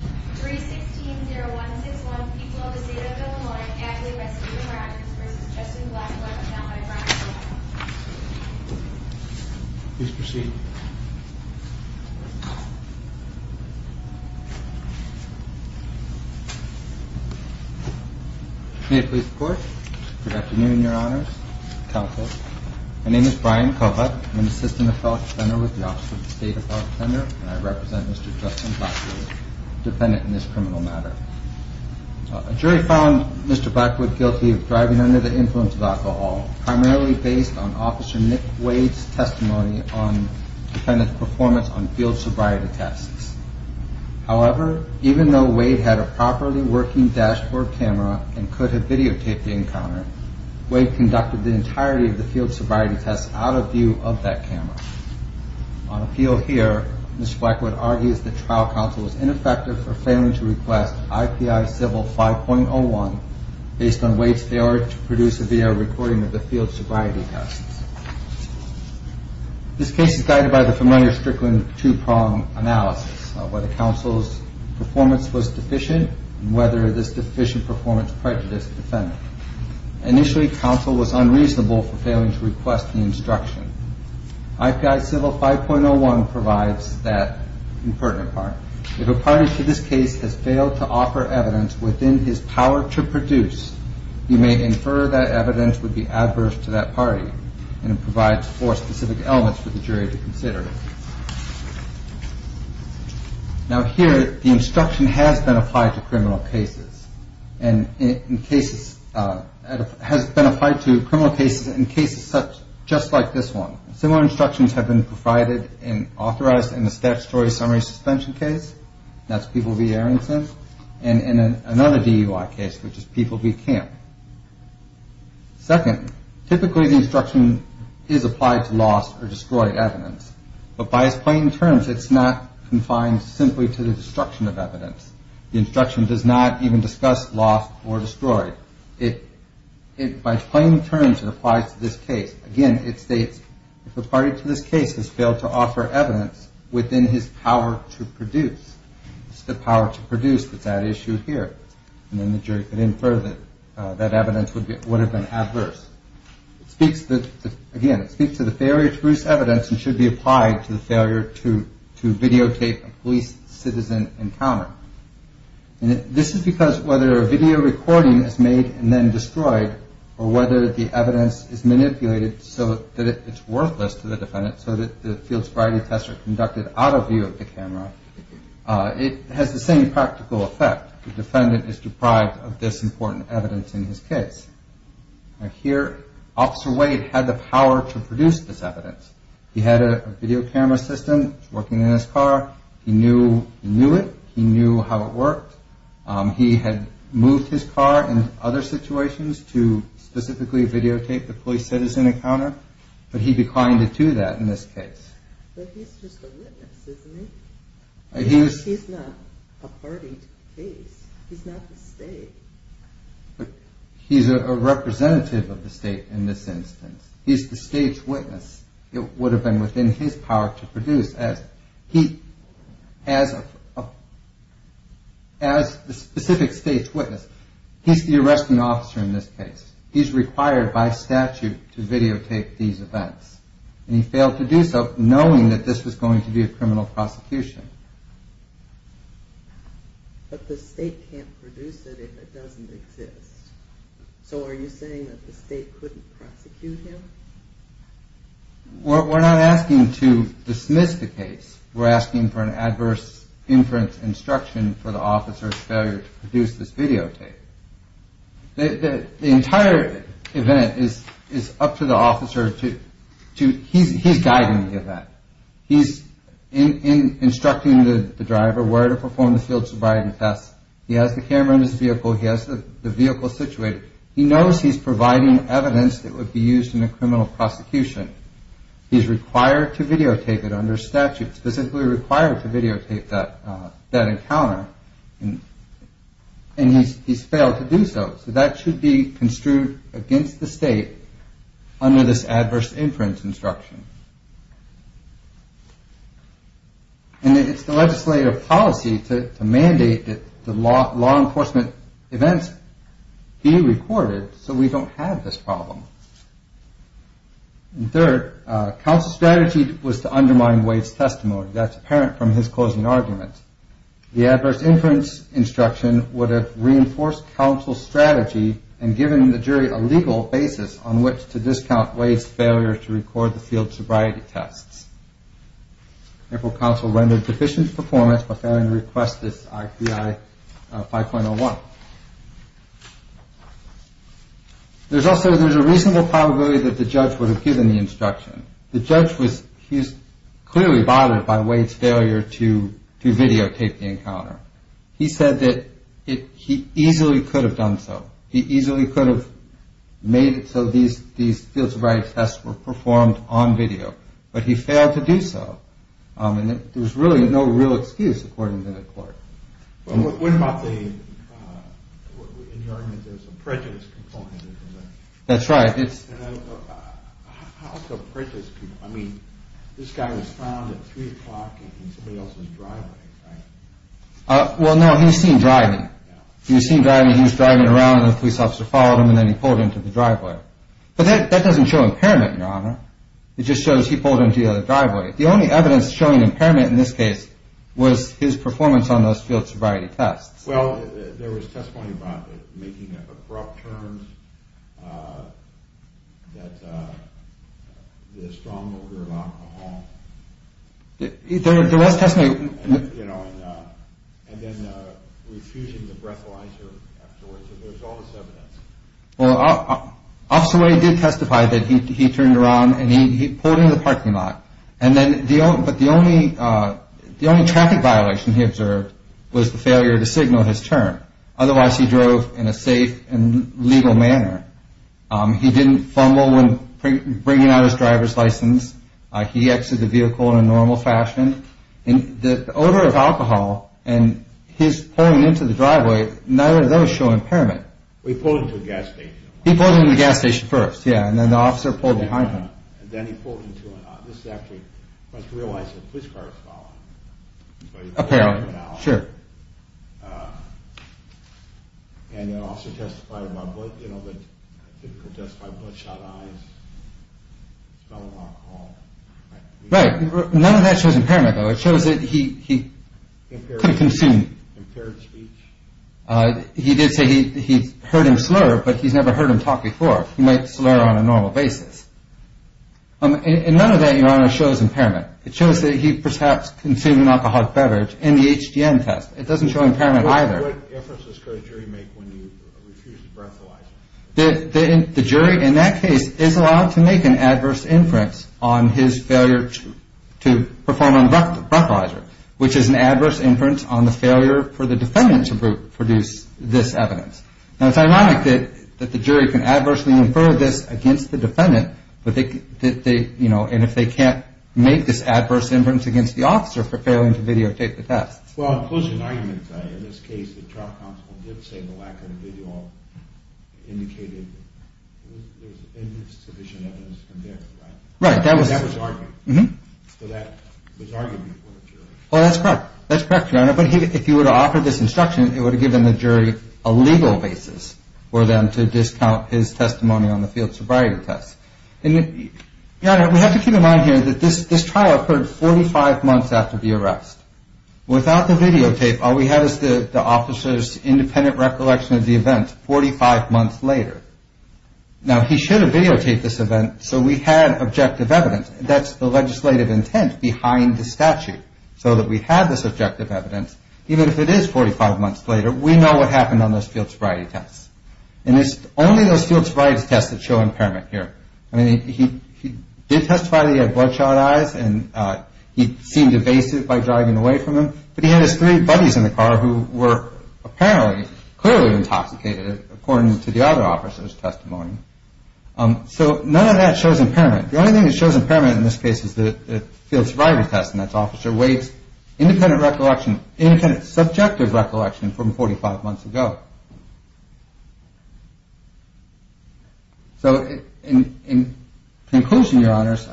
3-16-0-1-6-1 People of the State of Illinois, Adelaide Rescuing Rockets v. Justin Blackwood, now by Brian Kovach Please proceed. May it please the Court. Good afternoon, Your Honors. Counsel. My name is Brian Kovach. I'm an assistant appellate defender with the Office of the State Appellate Defender, and I represent Mr. Justin Blackwood, defendant in this criminal matter. A jury found Mr. Blackwood guilty of driving under the influence of alcohol, primarily based on Officer Nick Wade's testimony on defendant's performance on field sobriety tests. However, even though Wade had a properly working dashboard camera and could have videotaped the encounter, Wade conducted the entirety of the field sobriety tests out of view of that camera. On appeal here, Mr. Blackwood argues that trial counsel was ineffective for failing to request IPI Civil 5.01 based on Wade's failure to produce a VR recording of the field sobriety tests. This case is guided by the familiar Strickland two-prong analysis of whether counsel's performance was deficient and whether this deficient performance prejudiced the defendant. Initially, counsel was unreasonable for failing to request the instruction. IPI Civil 5.01 provides that important part. If a party to this case has failed to offer evidence within his power to produce, he may infer that evidence would be adverse to that party. And it provides four specific elements for the jury to consider. Now here, the instruction has been applied to criminal cases. And in cases, has been applied to criminal cases in cases such, just like this one. Similar instructions have been provided and authorized in the statutory summary suspension case. That's People v. Aronson. And in another DUI case, which is People v. Camp. Second, typically the instruction is applied to lost or destroyed evidence. But by its plain terms, it's not confined simply to the destruction of evidence. The instruction does not even discuss lost or destroyed. By its plain terms, it applies to this case. Again, it states, if a party to this case has failed to offer evidence within his power to produce. It's the power to produce that's at issue here. And then the jury could infer that that evidence would have been adverse. Again, it speaks to the failure to produce evidence and should be applied to the failure to videotape a police citizen encounter. And this is because whether a video recording is made and then destroyed, or whether the evidence is manipulated so that it's worthless to the defendant, so that the field sobriety tests are conducted out of view of the camera, it has the same practical effect. The defendant is deprived of this important evidence in his case. Here, Officer Wade had the power to produce this evidence. He had a video camera system working in his car. He knew it. He knew how it worked. He had moved his car in other situations to specifically videotape the police citizen encounter. But he declined to do that in this case. But he's just a witness, isn't he? He's not a party to the case. He's not the state. He's a representative of the state in this instance. He's the state's witness. It would have been within his power to produce as the specific state's witness. He's the arresting officer in this case. He's required by statute to videotape these events. And he failed to do so knowing that this was going to be a criminal prosecution. But the state can't produce it if it doesn't exist. So are you saying that the state couldn't prosecute him? We're not asking to dismiss the case. We're asking for an adverse inference instruction for the officer's failure to produce this videotape. The entire event is up to the officer. He's guiding the event. He's instructing the driver where to perform the field sobriety test. He has the camera in his vehicle. He has the vehicle situated. He knows he's providing evidence that would be used in a criminal prosecution. He's required to videotape it under statute, specifically required to videotape that encounter. And he's failed to do so. So that should be construed against the state under this adverse inference instruction. And it's the legislative policy to mandate that the law enforcement events be recorded so we don't have this problem. And third, counsel's strategy was to undermine Wade's testimony. That's apparent from his closing argument. The adverse inference instruction would have reinforced counsel's strategy and given the jury a legal basis on which to discount Wade's failure to record the field sobriety tests. Therefore, counsel rendered deficient performance by failing to request this IPI 5.01. There's also a reasonable probability that the judge would have given the instruction. The judge was clearly bothered by Wade's failure to videotape the encounter. He said that he easily could have done so. He easily could have made it so these field sobriety tests were performed on video. But he failed to do so. And there was really no real excuse, according to the court. What about the injury? There's a prejudice component. That's right. It's prejudice. I mean, this guy was found at 3 o'clock in somebody else's driveway. Well, no, he was seen driving. He was seen driving. He was driving around. The police officer followed him, and then he pulled into the driveway. But that doesn't show impairment, Your Honor. It just shows he pulled into the driveway. The only evidence showing impairment in this case was his performance on those field sobriety tests. Well, there was testimony about making abrupt turns, that the strong odor of alcohol. There was testimony. You know, and then refusing the breathalyzer afterwards. There's all this evidence. Well, Officer Wade did testify that he turned around and he pulled into the parking lot. But the only traffic violation he observed was the failure to signal his turn. Otherwise, he drove in a safe and legal manner. He didn't fumble when bringing out his driver's license. He exited the vehicle in a normal fashion. The odor of alcohol and his pulling into the driveway, neither of those show impairment. He pulled into the gas station. He pulled into the gas station first, yeah, and then the officer pulled behind him. And then he pulled into an office. Actually, you must realize that a police car is following him. Apparently, sure. And the officer testified about bloodshot eyes, smelling of alcohol. Right. None of that shows impairment, though. It shows that he couldn't consume. Impaired speech? He did say he heard him slur, but he's never heard him talk before. He might slur on a normal basis. And none of that, Your Honor, shows impairment. It shows that he perhaps consumed an alcoholic beverage in the HDM test. It doesn't show impairment either. What inferences could a jury make when you refuse the breathalyzer? The jury in that case is allowed to make an adverse inference on his failure to perform on the breathalyzer, which is an adverse inference on the failure for the defendant to produce this evidence. Now, it's ironic that the jury can adversely infer this against the defendant, and if they can't make this adverse inference against the officer for failing to videotape the test. Well, in closing arguments, in this case, the trial counsel did say the lack of video indicated there was insufficient evidence to convict, right? Right. That was argued. So that was argued before the jury. Well, that's correct. That's correct, Your Honor. But if you were to offer this instruction, it would have given the jury a legal basis for them to discount his testimony on the field sobriety test. Your Honor, we have to keep in mind here that this trial occurred 45 months after the arrest. Without the videotape, all we have is the officer's independent recollection of the event 45 months later. Now, he should have videotaped this event so we had objective evidence. That's the legislative intent behind the statute, so that we have this objective evidence. Even if it is 45 months later, we know what happened on those field sobriety tests. And it's only those field sobriety tests that show impairment here. I mean, he did testify that he had bloodshot eyes and he seemed evasive by driving away from him, but he had his three buddies in the car who were apparently clearly intoxicated, according to the other officer's testimony. So none of that shows impairment. The only thing that shows impairment in this case is the field sobriety test, and that's Officer Wade's independent recollection, independent subjective recollection from 45 months ago. So in conclusion, Your Honors,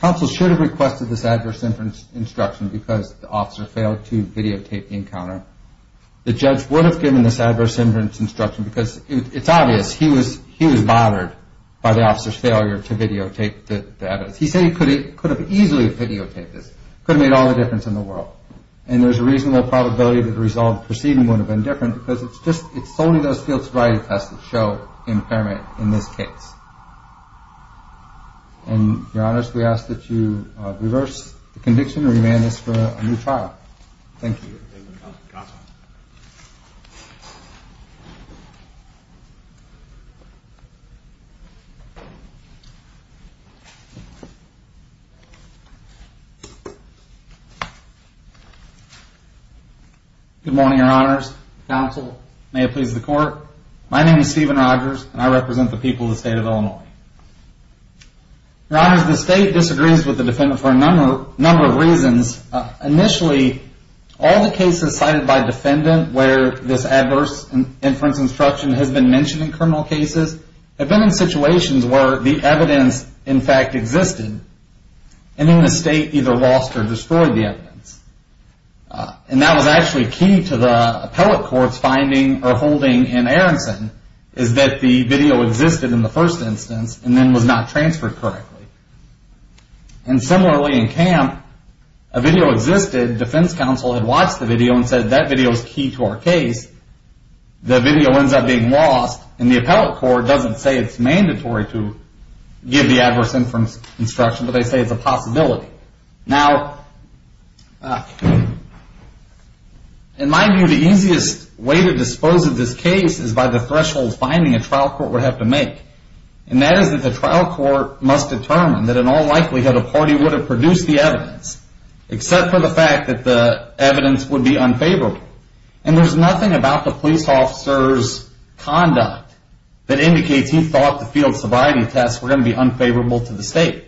counsel should have requested this adverse inference instruction because the officer failed to videotape the encounter. The judge would have given this adverse inference instruction because it's obvious he was bothered by the officer's failure to videotape the evidence. He said he could have easily videotaped this. It could have made all the difference in the world. And there's a reasonable probability that the resolved proceeding would have been different because it's just only those field sobriety tests that show impairment in this case. And, Your Honors, we ask that you reverse the conviction and remand this for a new trial. Thank you. Thank you. Good morning, Your Honors. Counsel, may it please the Court. My name is Stephen Rogers, and I represent the people of the State of Illinois. Your Honors, the State disagrees with the defendant for a number of reasons. Initially, all the cases cited by defendant where this adverse inference instruction has been mentioned in criminal cases have been in situations where the evidence, in fact, existed, and then the State either lost or destroyed the evidence. And that was actually key to the appellate court's finding or holding in Aronson, is that the video existed in the first instance and then was not transferred correctly. And similarly in Camp, a video existed, defense counsel had watched the video and said that video is key to our case. The video ends up being lost, and the appellate court doesn't say it's mandatory to give the adverse inference instruction, but they say it's a possibility. Now, in my view, the easiest way to dispose of this case is by the threshold finding a trial court would have to make. And that is that the trial court must determine that in all likelihood a party would have produced the evidence, except for the fact that the evidence would be unfavorable. And there's nothing about the police officer's conduct that indicates he thought the field sobriety tests were going to be unfavorable to the State.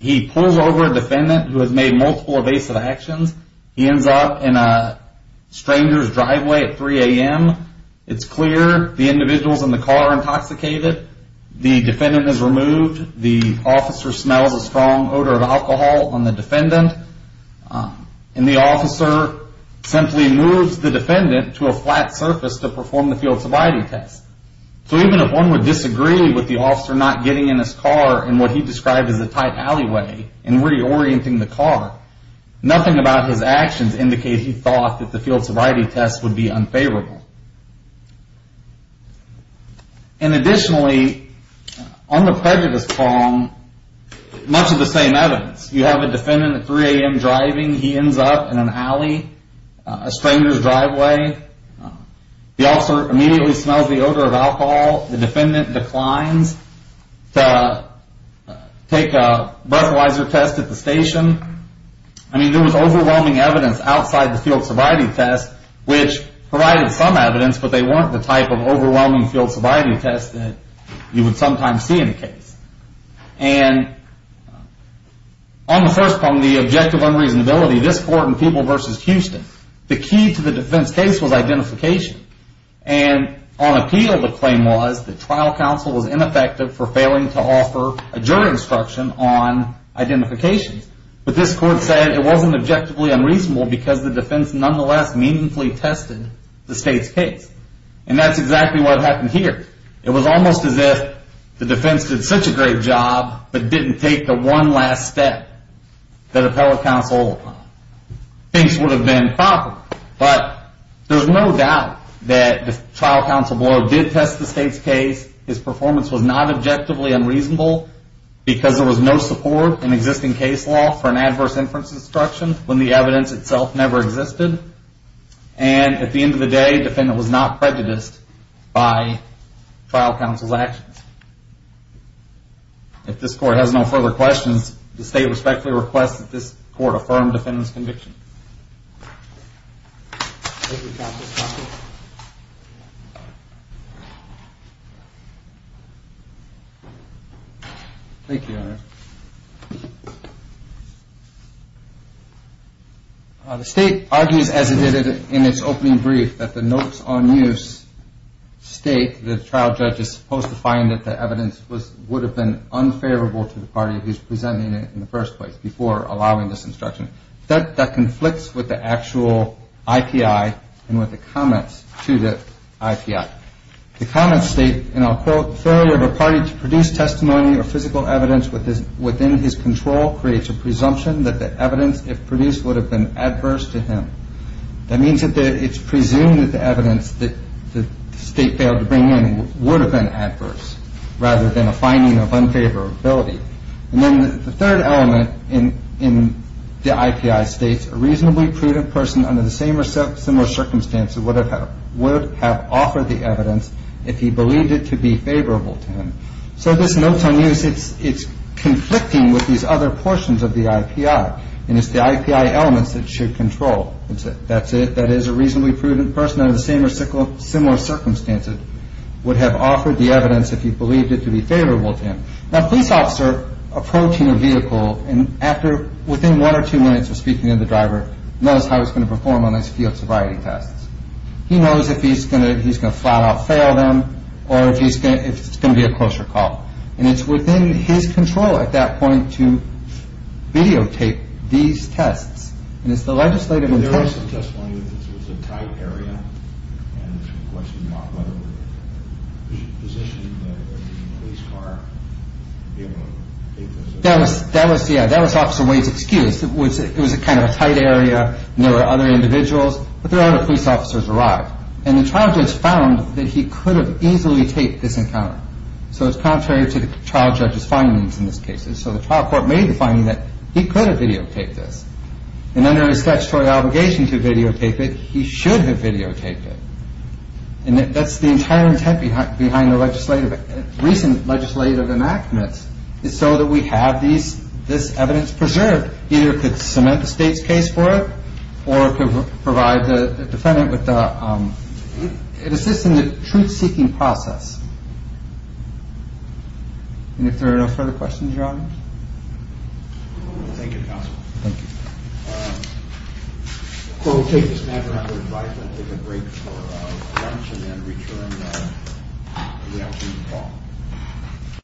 He pulls over a defendant who has made multiple evasive actions. He ends up in a stranger's driveway at 3 a.m. It's clear the individuals in the car are intoxicated. The defendant is removed. The officer smells a strong odor of alcohol on the defendant. And the officer simply moves the defendant to a flat surface to perform the field sobriety test. So even if one would disagree with the officer not getting in his car in what he described as a tight alleyway and reorienting the car, nothing about his actions indicates he thought the field sobriety test would be unfavorable. And additionally, on the prejudice prong, much of the same evidence. You have a defendant at 3 a.m. driving. He ends up in an alley, a stranger's driveway. The officer immediately smells the odor of alcohol. The defendant declines to take a breathalyzer test at the station. I mean, there was overwhelming evidence outside the field sobriety test which provided some evidence, but they weren't the type of overwhelming field sobriety test that you would sometimes see in a case. And on the first prong, the objective unreasonability, this court and People v. Houston, the key to the defense case was identification. And on appeal, the claim was that trial counsel was ineffective for failing to offer a jury instruction on identification. But this court said it wasn't objectively unreasonable because the defense nonetheless meaningfully tested the state's case. And that's exactly what happened here. It was almost as if the defense did such a great job but didn't take the one last step that a trial counsel thinks would have been proper. But there's no doubt that the trial counsel did test the state's case. His performance was not objectively unreasonable because there was no support in existing case law for an adverse inference instruction when the evidence itself never existed. And at the end of the day, the defendant was not prejudiced by trial counsel's actions. If this court has no further questions, the state respectfully requests that this court affirm defendant's conviction. Thank you, Your Honor. The state argues as it did in its opening brief that the notes on use state that the trial judge is supposed to find that the evidence would have been unfavorable to the party who's presenting it in the first place before allowing this instruction. That conflicts with the actual IPI and with the comments to the IPI. The comments state, and I'll quote, failure of a party to produce testimony or physical evidence within his control creates a presumption that the evidence if produced would have been adverse to him. That means that it's presumed that the evidence that the state failed to bring in would have been adverse rather than a finding of unfavorability. And then the third element in the IPI states, a reasonably prudent person under the same or similar circumstances would have offered the evidence if he believed it to be favorable to him. So this notes on use, it's conflicting with these other portions of the IPI, and it's the IPI elements that should control. That's it. That is a reasonably prudent person under the same or similar circumstances would have offered the evidence if he believed it to be favorable to him. Now, a police officer approaching a vehicle and after within one or two minutes of speaking to the driver knows how he's going to perform on these field sobriety tests. He knows if he's going to flat out fail them or if it's going to be a closer call. And it's within his control at that point to videotape these tests. And it's the legislative intention. There was some testimony that this was a tight area, and there was some question about whether the positioning of the police car would be able to take those tests. That was Officer Wade's excuse. It was kind of a tight area and there were other individuals, but there are other police officers arrived. And the trial judge found that he could have easily taped this encounter. So it's contrary to the trial judge's findings in this case. And so the trial court made the finding that he could have videotaped this. And under his statutory obligation to videotape it, he should have videotaped it. And that's the entire intent behind the recent legislative enactments is so that we have this evidence preserved. Either it could cement the state's case for it or it could assist in the truth-seeking process. And if there are no further questions, Your Honor. Thank you, Counsel. Thank you. We'll take this matter under advisement, take a break for lunch and then return in the afternoon call.